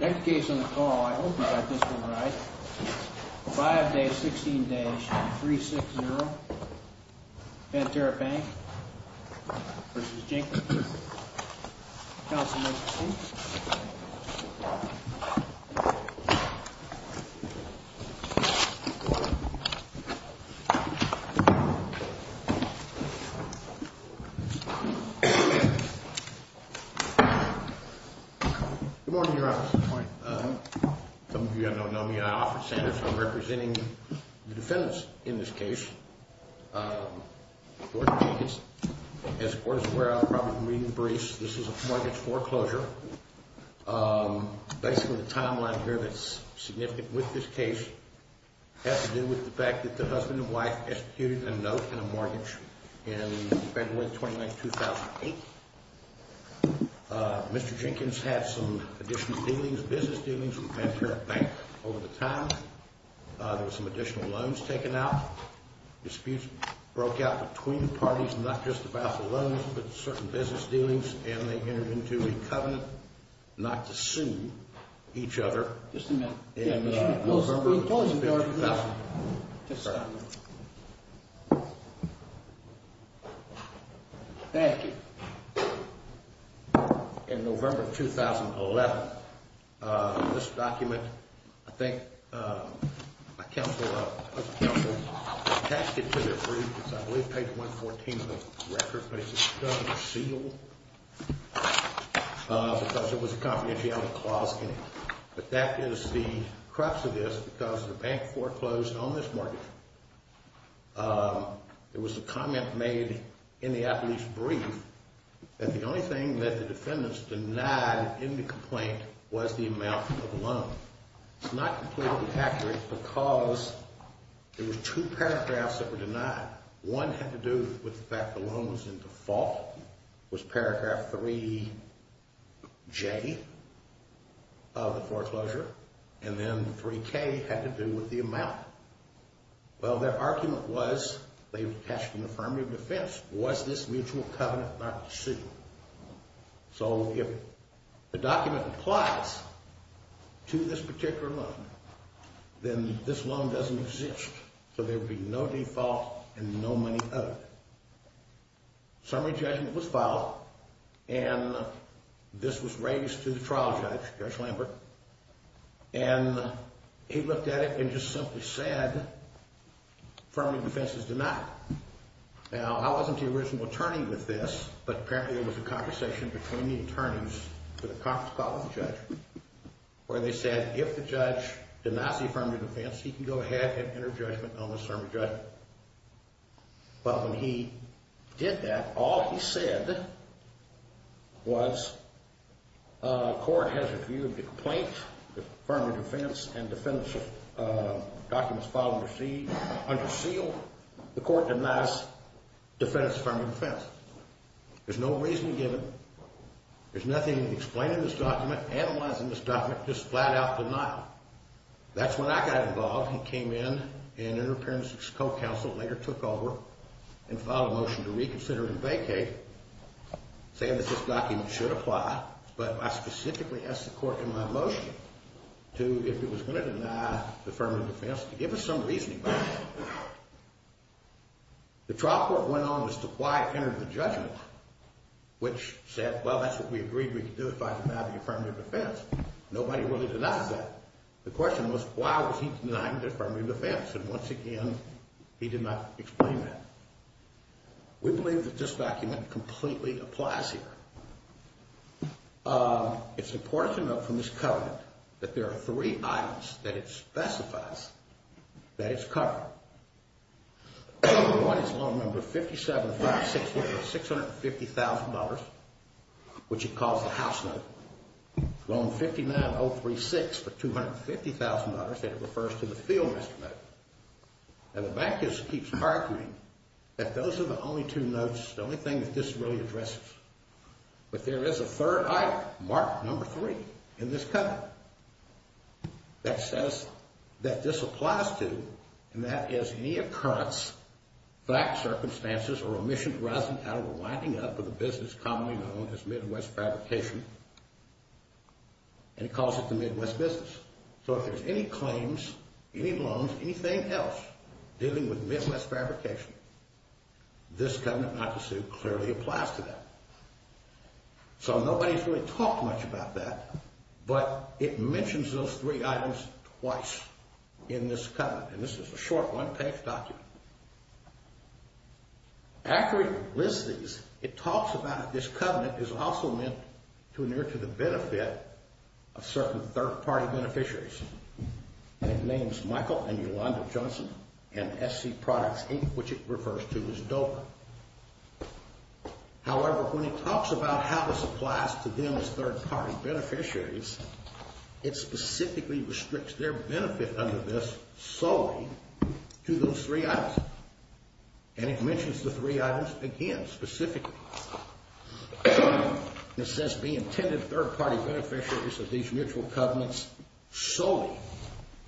Next case on the call, I hope you got this one right, 5-16-360, Banterra Bank v. Jenkins. Counsel may proceed. Good morning, Your Honor. Some of you may not know me, I'm Alfred Sanders. I'm representing the defendants in this case. George Jenkins. As the Court is aware, I'm probably reading the briefs. This is a mortgage foreclosure. Basically, the timeline here that's significant with this case has to do with the fact that the husband and wife executed a note in a mortgage in February 29, 2008. Mr. Jenkins had some additional dealings, business dealings, with Banterra Bank over the time. There were some additional loans taken out. Disputes broke out between parties, not just about the loans, but certain business dealings, and they entered into a covenant not to sue each other. Just a minute. Thank you. In November of 2011, this document, I think my counsel attached it to their brief. It's, I believe, page 114 of the record, but it's kind of sealed because it was a confidentiality clause in it. But that is the crux of this because the bank foreclosed on this mortgage. There was a comment made in the, I believe, brief that the only thing that the defendants denied in the complaint was the amount of the loan. It's not completely accurate because there were two paragraphs that were denied. One had to do with the fact the loan was in default, was paragraph 3J of the foreclosure, and then 3K had to do with the amount. Well, their argument was, they attached an affirmative defense, was this mutual covenant not to sue? So if the document applies to this particular loan, then this loan doesn't exist. So there would be no default and no money owed. Summary judgment was filed, and this was raised to the trial judge, Judge Lambert, and he looked at it and just simply said affirmative defenses denied. Now, I wasn't the original attorney with this, but apparently it was a conversation between the attorneys for the conference call with the judge where they said if the judge denies the affirmative defense, he can go ahead and enter judgment on the summary judgment. But when he did that, all he said was the court has a view of the complaint, the affirmative defense and defense documents filed and received under seal. The court denies the defense of affirmative defense. There's no reason given. There's nothing explained in this document, analyzed in this document, just flat out denied. That's when I got involved and came in, and Interim Appearance and Succulent Counsel later took over and filed a motion to reconsider and vacate, saying that this document should apply, but I specifically asked the court in my motion to, if it was going to deny the affirmative defense, to give us some reasoning behind it. The trial court went on as to why it entered the judgment, which said, well, that's what we agreed we could do if I denied the affirmative defense. Nobody really denied that. The question was, why was he denying the affirmative defense? And once again, he did not explain that. We believe that this document completely applies here. It's important to note from this covenant that there are three items that it specifies that it's covered. Number one is loan number 57560 for $650,000, which it calls the house note. Loan 59036 for $250,000, and it refers to the field instrument. And the bank just keeps arguing that those are the only two notes, the only thing that this really addresses. But there is a third item, mark number three, in this covenant that says that this applies to and that is any occurrence, fact, circumstances, or omission arising out of a winding up of a business commonly known as Midwest Fabrication, and it calls it the Midwest business. So if there's any claims, any loans, anything else dealing with Midwest Fabrication, this covenant not to sue clearly applies to that. So nobody's really talked much about that, but it mentions those three items twice in this covenant, and this is a short one-page document. After it lists these, it talks about this covenant is also meant to adhere to the benefit of certain third-party beneficiaries, and it names Michael and Yolanda Johnson and SC Products Inc., which it refers to as DOPA. However, when it talks about how this applies to them as third-party beneficiaries, it specifically restricts their benefit under this solely to those three items, and it mentions the three items again specifically. It says be intended third-party beneficiaries of these mutual covenants solely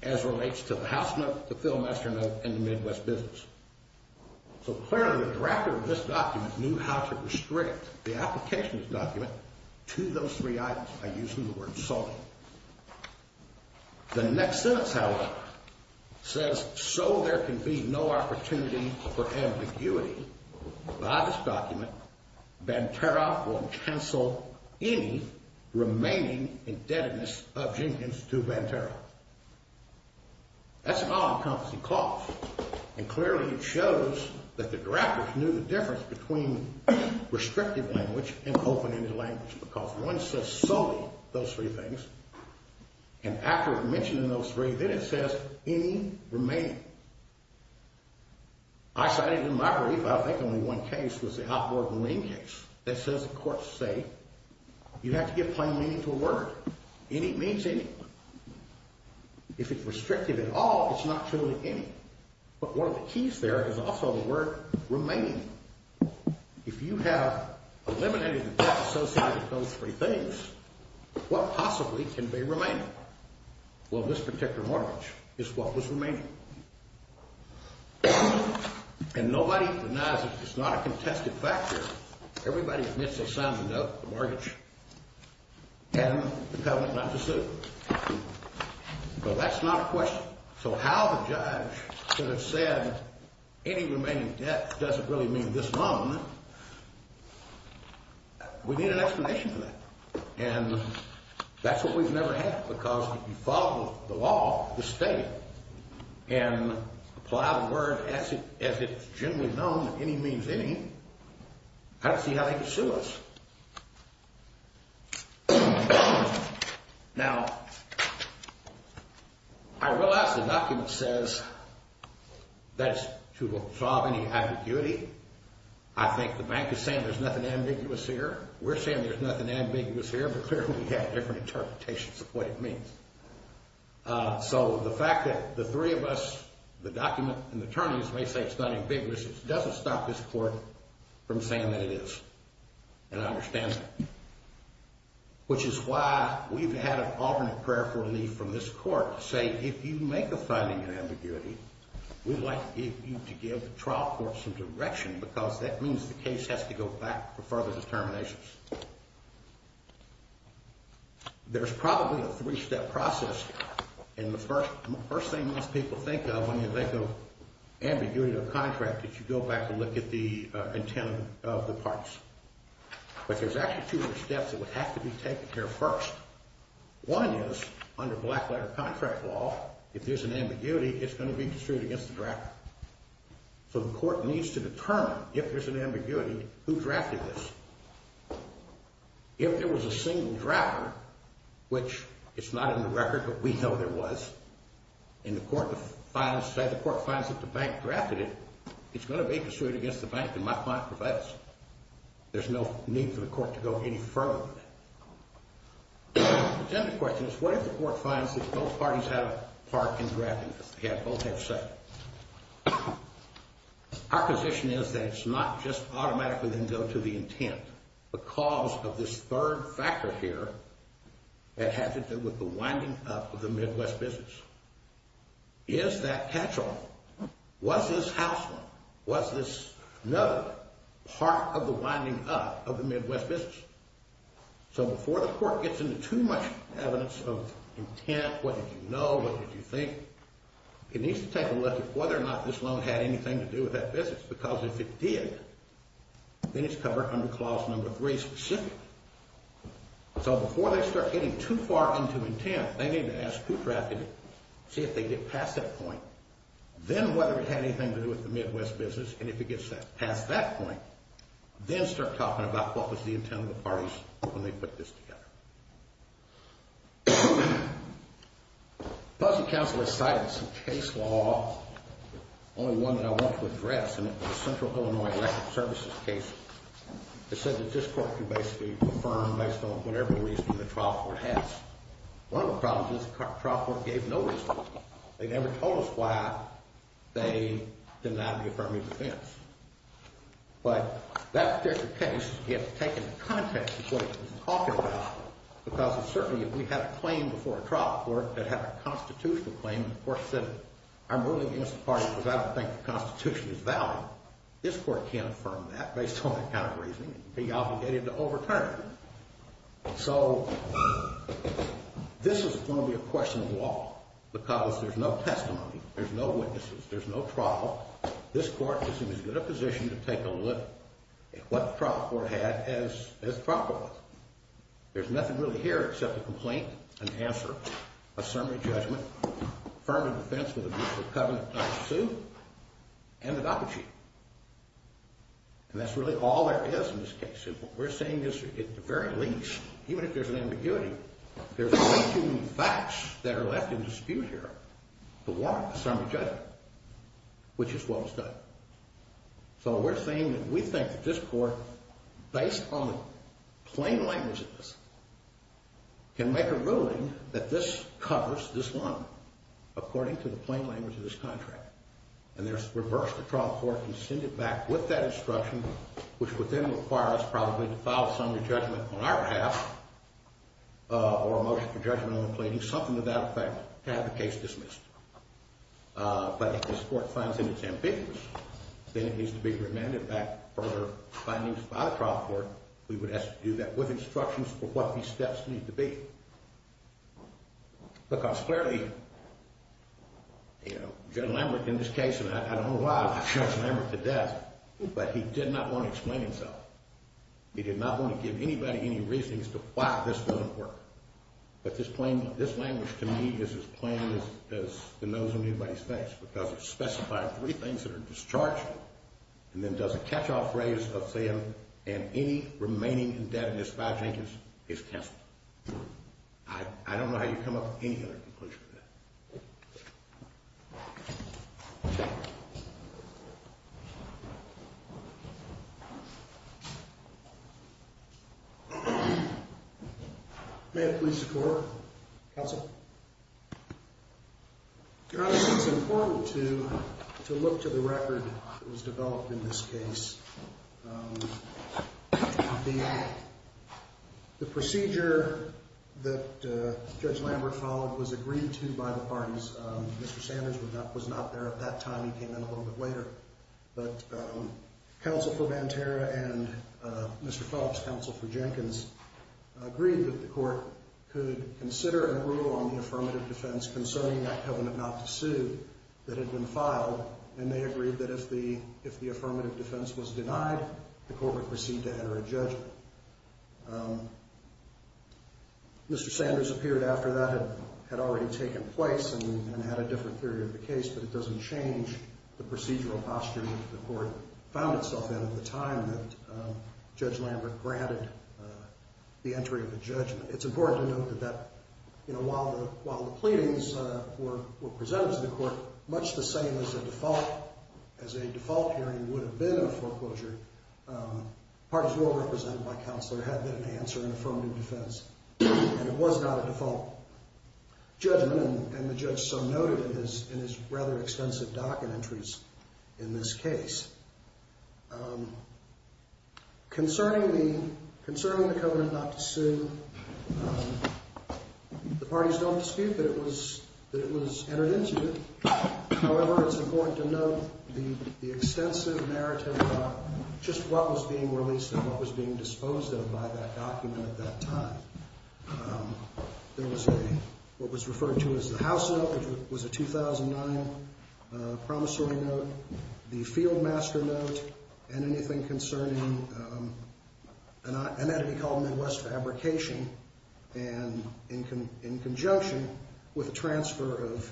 as relates to the house note, the fill master note, and the Midwest business. So clearly the director of this document knew how to restrict the application of this document to those three items. I use the word solely. The next sentence, however, says, so there can be no opportunity for ambiguity by this document, Banterra will cancel any remaining indebtedness of Jenkins to Banterra. That's an all-encompassing clause, and clearly it shows that the directors knew the difference between restrictive language and open-ended language because one says solely those three things, and after mentioning those three, then it says any remaining. I cited in my brief, I think only one case was the outboard lane case that says the court say you have to give plain meaning to a word. Any means any. If it's restrictive at all, it's not truly any, but one of the keys there is also the word remaining. If you have eliminated the debt associated with those three things, what possibly can be remaining? Well, this particular mortgage is what was remaining, and nobody denies it. It's not a contested factor. Everybody admits they signed the note, the mortgage, and the covenant not to sue, but that's not a question. So how the judge could have said any remaining debt doesn't really mean this loan, we need an explanation for that, and that's what we've never had because if you follow the law, the statute, and apply the word as it's generally known, any means any, I don't see how they could sue us. Now, I realize the document says that's to absolve any ambiguity. I think the bank is saying there's nothing ambiguous here. We're saying there's nothing ambiguous here, but clearly we have different interpretations of what it means. So the fact that the three of us, the document, and the attorneys may say it's not ambiguous, it doesn't stop this court from saying that it is, and I understand that, which is why we've had an alternate prayer for relief from this court to say, if you make a finding in ambiguity, we'd like you to give the trial court some direction because that means the case has to go back for further determinations. There's probably a three-step process, and the first thing most people think of when you think of ambiguity to a contract is you go back and look at the intent of the parties. But there's actually two steps that would have to be taken here first. One is, under black-letter contract law, if there's an ambiguity, it's going to be construed against the drafter. So the court needs to determine, if there's an ambiguity, who drafted this. If there was a single drafter, which it's not in the record, but we know there was, and the court finds that the bank drafted it, it's going to be construed against the bank that my client provides. There's no need for the court to go any further than that. Then the question is, what if the court finds that both parties have a part in drafting this? They both have said it. Our position is that it's not just automatically going to go to the intent because of this third factor here that has to do with the winding up of the Midwest business. Is that catch-all? Was this house loan? Was this another part of the winding up of the Midwest business? So before the court gets into too much evidence of intent, what did you know, what did you think, it needs to take a look at whether or not this loan had anything to do with that business because if it did, then it's covered under clause number three specifically. So before they start getting too far into intent, they need to ask who drafted it, see if they get past that point, then whether it had anything to do with the Midwest business, and if it gets past that point, then start talking about what was the intent of the parties when they put this together. Policy counsel has cited some case law, only one that I want to address, and it's the Central Illinois Electric Services case. It says that this court can basically affirm based on whatever reason the trial court has. One of the problems is the trial court gave no reason. They never told us why they denied the affirmative defense. But that particular case, you have to take into context what it's talking about because certainly if we had a claim before a trial court that had a constitutional claim, the court said I'm ruling against the party because I don't think the Constitution is valid. This court can't affirm that based on that kind of reasoning. It would be obligated to overturn. So this is going to be a question of law because there's no testimony, there's no witnesses, there's no trial. This court is in as good a position to take a look at what the trial court had as the trial court was. There's nothing really here except a complaint, an answer, a summary judgment, affirmative defense for the use of covenant-type suit, and the doppelganger. And that's really all there is in this case. And what we're saying is at the very least, even if there's an ambiguity, there's too many facts that are left in dispute here to warrant a summary judgment, which is what was done. So we're saying that we think that this court, based on the plain language of this, can make a ruling that this covers this one according to the plain language of this contract. And there's reverse the trial court can send it back with that instruction, which would then require us probably to file a summary judgment on our behalf or a motion for judgment on the plaintiff, something to that effect, to have the case dismissed. But if this court finds that it's ambiguous, then it needs to be remanded back for findings by the trial court. We would have to do that with instructions for what these steps need to be. Look, I was clearly, you know, General Lambert in this case, and I don't know why I brought General Lambert to death, but he did not want to explain himself. He did not want to give anybody any reason as to why this wouldn't work. But this language to me is as plain as the nose on anybody's face because it specifies three things that are discharged and then does a catch-all phrase of saying, and any remaining indebtedness by Jenkins is canceled. I don't know how you come up with any other conclusion to that. May it please the Court. Counsel. Your Honor, it's important to look to the record that was developed in this case. The procedure that Judge Lambert followed was agreed to by the parties. Mr. Sanders was not there at that time. He came in a little bit later. But Counsel for Mantera and Mr. Phillips, Counsel for Jenkins, agreed that the Court could consider a rule on the affirmative defense concerning that covenant not to sue that had been filed, and they agreed that if the affirmative defense was denied, the Court would proceed to enter a judgment. Mr. Sanders appeared after that had already taken place and had a different theory of the case, but it doesn't change the procedural posture that the Court found itself in at the time that Judge Lambert granted the entry of a judgment. It's important to note that while the pleadings were presented to the Court, much the same as a default hearing would have been in a foreclosure, parties well represented by Counselor had been to answer an affirmative defense. And it was not a default judgment, and the judge so noted in his rather extensive docket entries in this case. Concerning the covenant not to sue, the parties don't dispute that it was entered into. However, it's important to note the extensive narrative about just what was being released and what was being disposed of by that document at that time. There was what was referred to as the House note, which was a 2009 promissory note, the Fieldmaster note, and anything concerning an entity called Midwest Fabrication, and in conjunction with the transfer of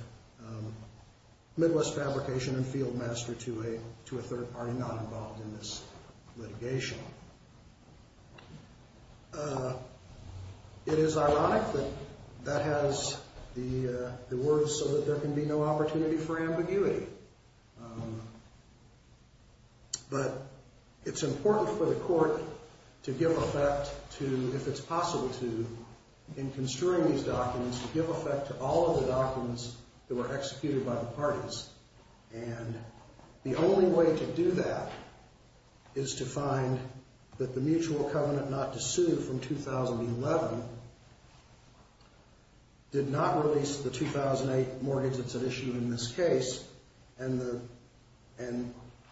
Midwest Fabrication and Fieldmaster to a third party not involved in this litigation. It is ironic that that has the words, so that there can be no opportunity for ambiguity. But it's important for the Court to give effect to, if it's possible to, in construing these documents, to give effect to all of the documents that were executed by the parties. And the only way to do that is to find that the mutual covenant not to sue from 2011 did not release the 2008 mortgage that's at issue in this case. And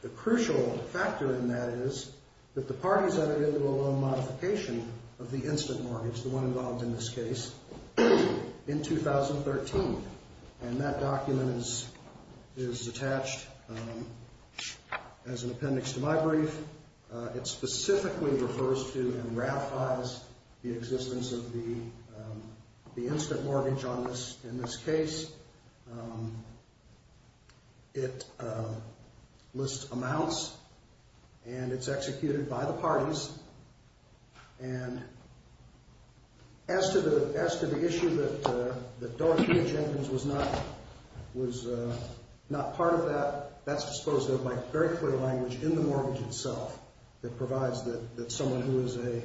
the crucial factor in that is that the parties entered into a loan modification of the instant mortgage, the one involved in this case, in 2013. And that document is attached as an appendix to my brief. It specifically refers to and ratifies the existence of the instant mortgage in this case. It lists amounts, and it's executed by the parties. And as to the issue that Dorothea Jenkins was not part of that, that's disposed of by very clear language in the mortgage itself. It provides that someone who is a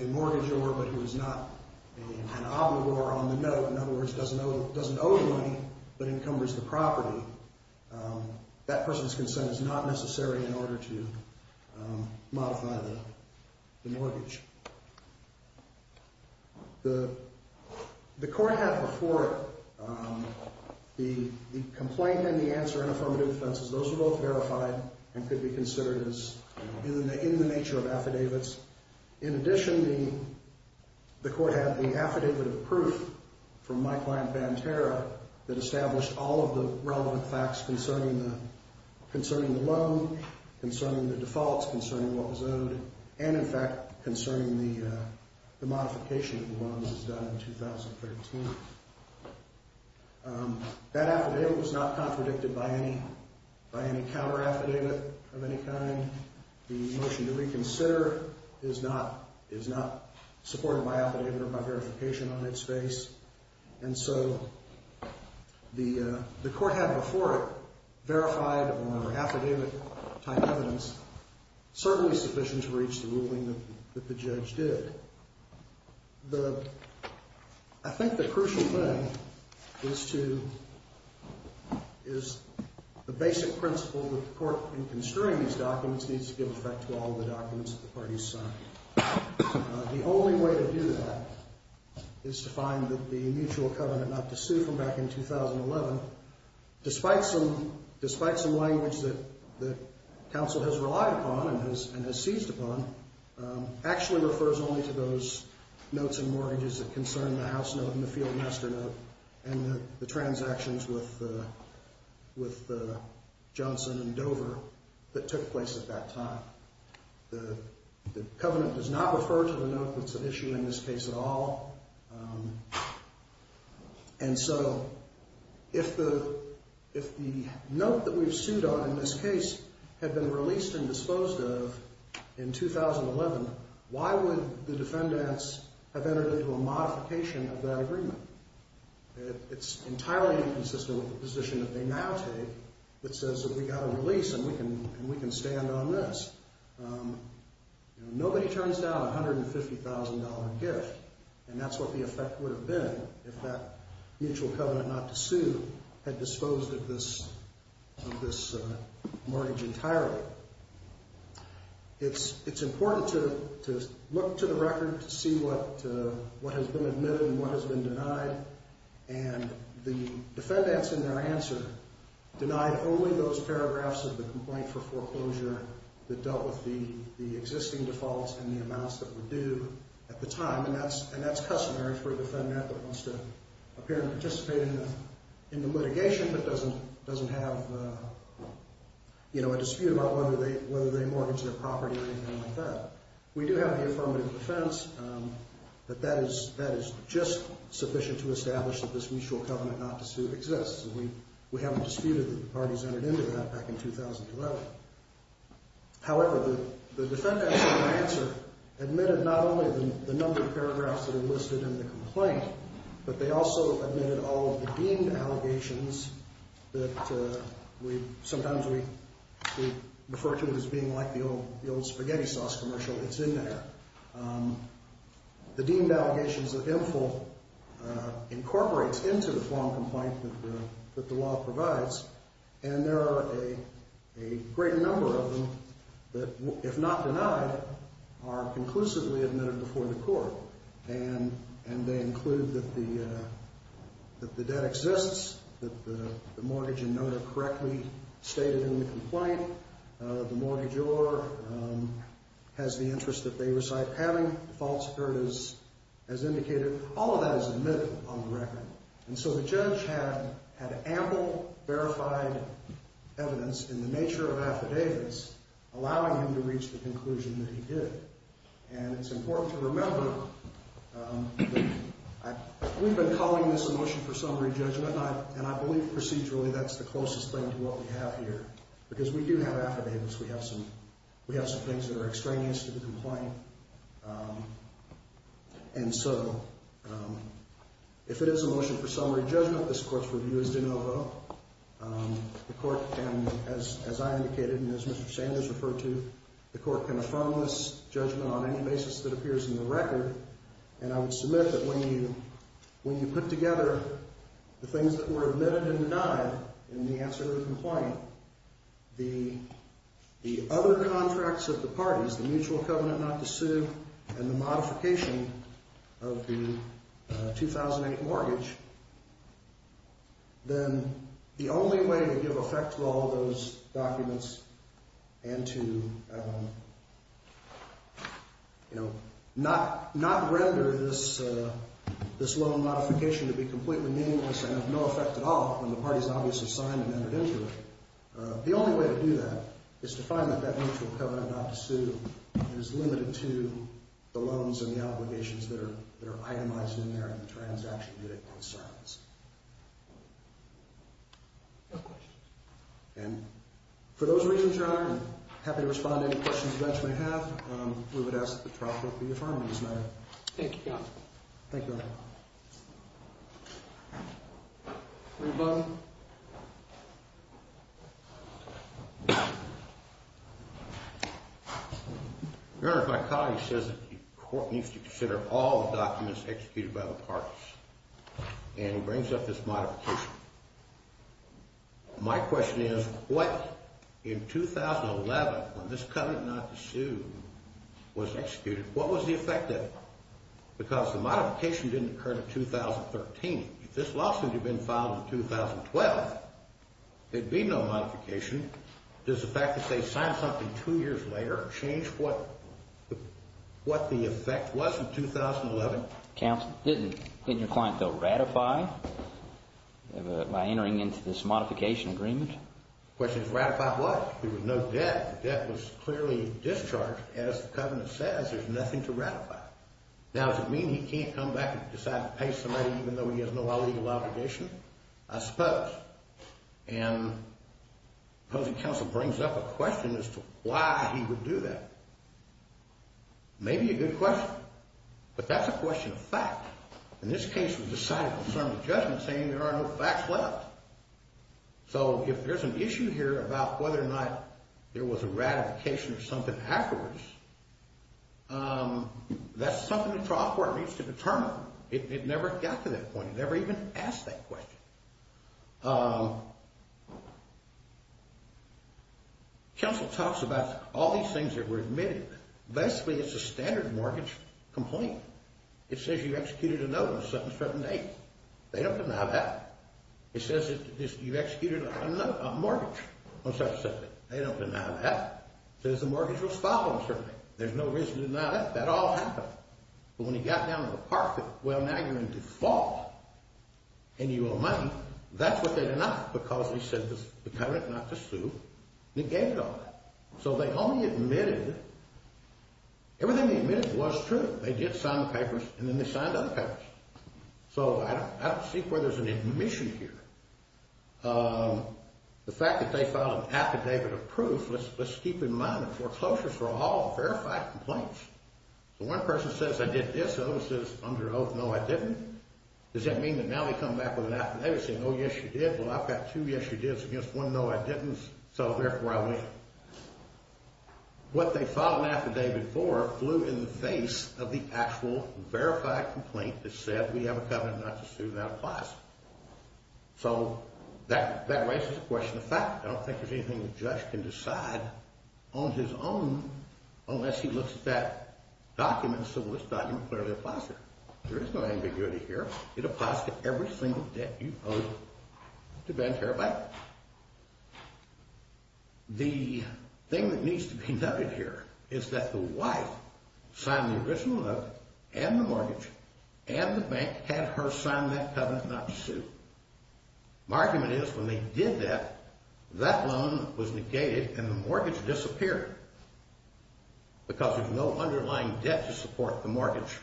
mortgagor, but who is not an obligor on the note, in other words, doesn't owe the money, but encumbers the property, that person's consent is not necessary in order to modify the mortgage. The court had before it the complaint and the answer in affirmative offenses. Those were both verified and could be considered as in the nature of affidavits. In addition, the court had the affidavit of proof from my client, Van Terra, that established all of the relevant facts concerning the loan, and, in fact, concerning the modification of the loans as done in 2013. That affidavit was not contradicted by any counter-affidavit of any kind. The motion to reconsider is not supported by affidavit or by verification on its face. And so the court had before it verified or affidavit-type evidence, certainly sufficient to reach the ruling that the judge did. I think the crucial thing is the basic principle that the court, in construing these documents, needs to give effect to all the documents that the parties signed. The only way to do that is to find the mutual covenant not to sue from back in 2011. Despite some language that counsel has relied upon and has seized upon, actually refers only to those notes and mortgages that concern the house note and the field master note and the transactions with Johnson and Dover that took place at that time. The covenant does not refer to the note that's at issue in this case at all. And so if the note that we've sued on in this case had been released and disposed of in 2011, why would the defendants have entered into a modification of that agreement? It's entirely inconsistent with the position that they now take that says that we've got a release and we can stand on this. Nobody turns down a $150,000 gift. And that's what the effect would have been if that mutual covenant not to sue had disposed of this mortgage entirely. It's important to look to the record to see what has been admitted and what has been denied. And the defendants in their answer denied only those paragraphs of the complaint for foreclosure that dealt with the existing defaults and the amounts that were due at the time. And that's customary for a defendant that wants to appear and participate in the litigation but doesn't have a dispute about whether they mortgage their property or anything like that. We do have the affirmative defense that that is just sufficient to establish that this mutual covenant not to sue exists. We haven't disputed that the parties entered into that back in 2011. However, the defendants in their answer admitted not only the number of paragraphs that are listed in the complaint, but they also admitted all of the deemed allegations that sometimes we refer to as being like the old spaghetti sauce commercial that's in there. The deemed allegations of infill incorporates into the form of complaint that the law provides. And there are a great number of them that, if not denied, are conclusively admitted before the court. And they include that the debt exists, that the mortgage and note are correctly stated in the complaint, the mortgagor has the interest that they reside having, defaults occurred as indicated. All of that is admitted on the record. And so the judge had ample verified evidence in the nature of affidavits allowing him to reach the conclusion that he did. And it's important to remember that we've been calling this a motion for summary judgment, and I believe procedurally that's the closest thing to what we have here. Because we do have affidavits. We have some things that are extraneous to the complaint. And so if it is a motion for summary judgment, this court's review is de novo. The court can, as I indicated and as Mr. Sanders referred to, the court can affirm this judgment on any basis that appears in the record. And I would submit that when you put together the things that were admitted and denied in the answer to the complaint, the other contracts of the parties, the mutual covenant not to sue and the modification of the 2008 mortgage, then the only way to give effect to all those documents and to not render this loan modification to be completely meaningless and of no effect at all when the parties obviously signed and entered into it, the only way to do that is to find that that mutual covenant not to sue is limited to the loans and the obligations that are itemized in there and the transaction that it concerns. And for those reasons, Your Honor, I'm happy to respond to any questions you guys may have. We would ask that the trial court be affirmed on this matter. Thank you, Your Honor. Rebuttal. Your Honor, if my colleague says that the court needs to consider all documents executed by the parties and he brings up this modification, my question is what, in 2011, when this covenant not to sue was executed, what was the effect of it? Because the modification didn't occur until 2013. If this lawsuit had been filed in 2012, there'd be no modification. Does the fact that they signed something two years later change what the effect was in 2011? Counsel, didn't your client, though, ratify by entering into this modification agreement? The question is ratify what? There was no debt. The debt was clearly discharged. As the covenant says, there's nothing to ratify. Now, does it mean he can't come back and decide to pay somebody even though he has no other legal obligation? I suppose. And opposing counsel brings up a question as to why he would do that. Maybe a good question. But that's a question of fact. In this case, we decided to confirm the judgment saying there are no facts left. So if there's an issue here about whether or not there was a ratification or something afterwards, that's something the trial court needs to determine. It never got to that point. It never even asked that question. Counsel talks about all these things that were admitted. Basically, it's a standard mortgage complaint. It says you executed a note on a certain date. They don't deny that. It says you executed a mortgage on such and such date. They don't deny that. It says the mortgage was filed on certain date. There's no reason to deny that. That all happened. But when he got down to the parking lot, well, now you're in default and you owe money. That's what they denied because he said the covenant is not to sue and he gave it all away. So they only admitted it. Everything they admitted was true. They did sign the papers and then they signed other papers. So I don't see where there's an admission here. The fact that they filed an affidavit of proof, let's keep in mind that foreclosures were all verified complaints. So one person says, I did this. The other says, under oath, no, I didn't. Does that mean that now they come back with an affidavit saying, oh, yes, you did? Well, I've got two yes, you did's against one no, I didn't. So therefore, I win. What they filed an affidavit for flew in the face of the actual verified complaint that said we have a covenant not to sue. That applies. So that raises the question of fact. I don't think there's anything the judge can decide on his own unless he looks at that document. So this document clearly applies here. There is no ambiguity here. It applies to every single debt you owe to Vanterra Bank. The thing that needs to be noted here is that the wife signed the original note and the mortgage and the bank had her sign that covenant not to sue. My argument is when they did that, that loan was negated and the mortgage disappeared because there's no underlying debt to support the mortgage.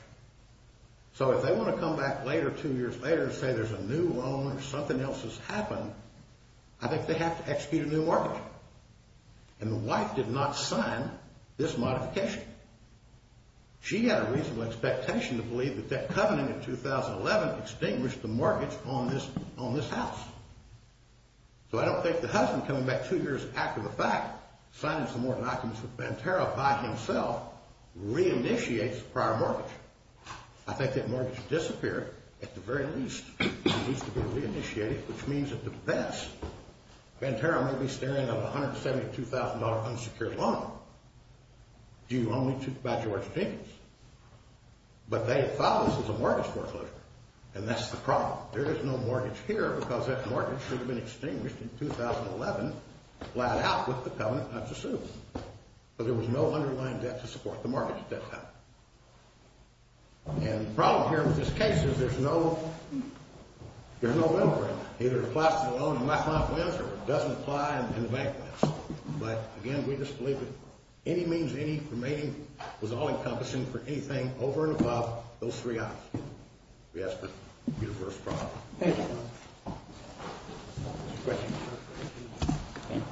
So if they want to come back later, two years later, and say there's a new loan or something else has happened, I think they have to execute a new mortgage. And the wife did not sign this modification. She had a reasonable expectation to believe that that covenant in 2011 extinguished the mortgage on this house. So I don't think the husband coming back two years after the fact, signing some more documents with Vanterra by himself, re-initiates the prior mortgage. I think that mortgage disappeared at the very least. It needs to be re-initiated, which means at the best, Vanterra may be staring at a $172,000 unsecured loan due only to by George Jenkins. But they thought this was a mortgage foreclosure. And that's the problem. There is no mortgage here because that mortgage should have been extinguished in 2011, flat out with the covenant not to sue. But there was no underlying debt to support the mortgage at that time. And the problem here with this case is there's no, there's no middle ground. Either it applies to the loan and my client wins or it doesn't apply and the bank wins. But again, we just believe that any means any for mating was all-encompassing for anything over and above those three options. We ask for your first comment. Thank you.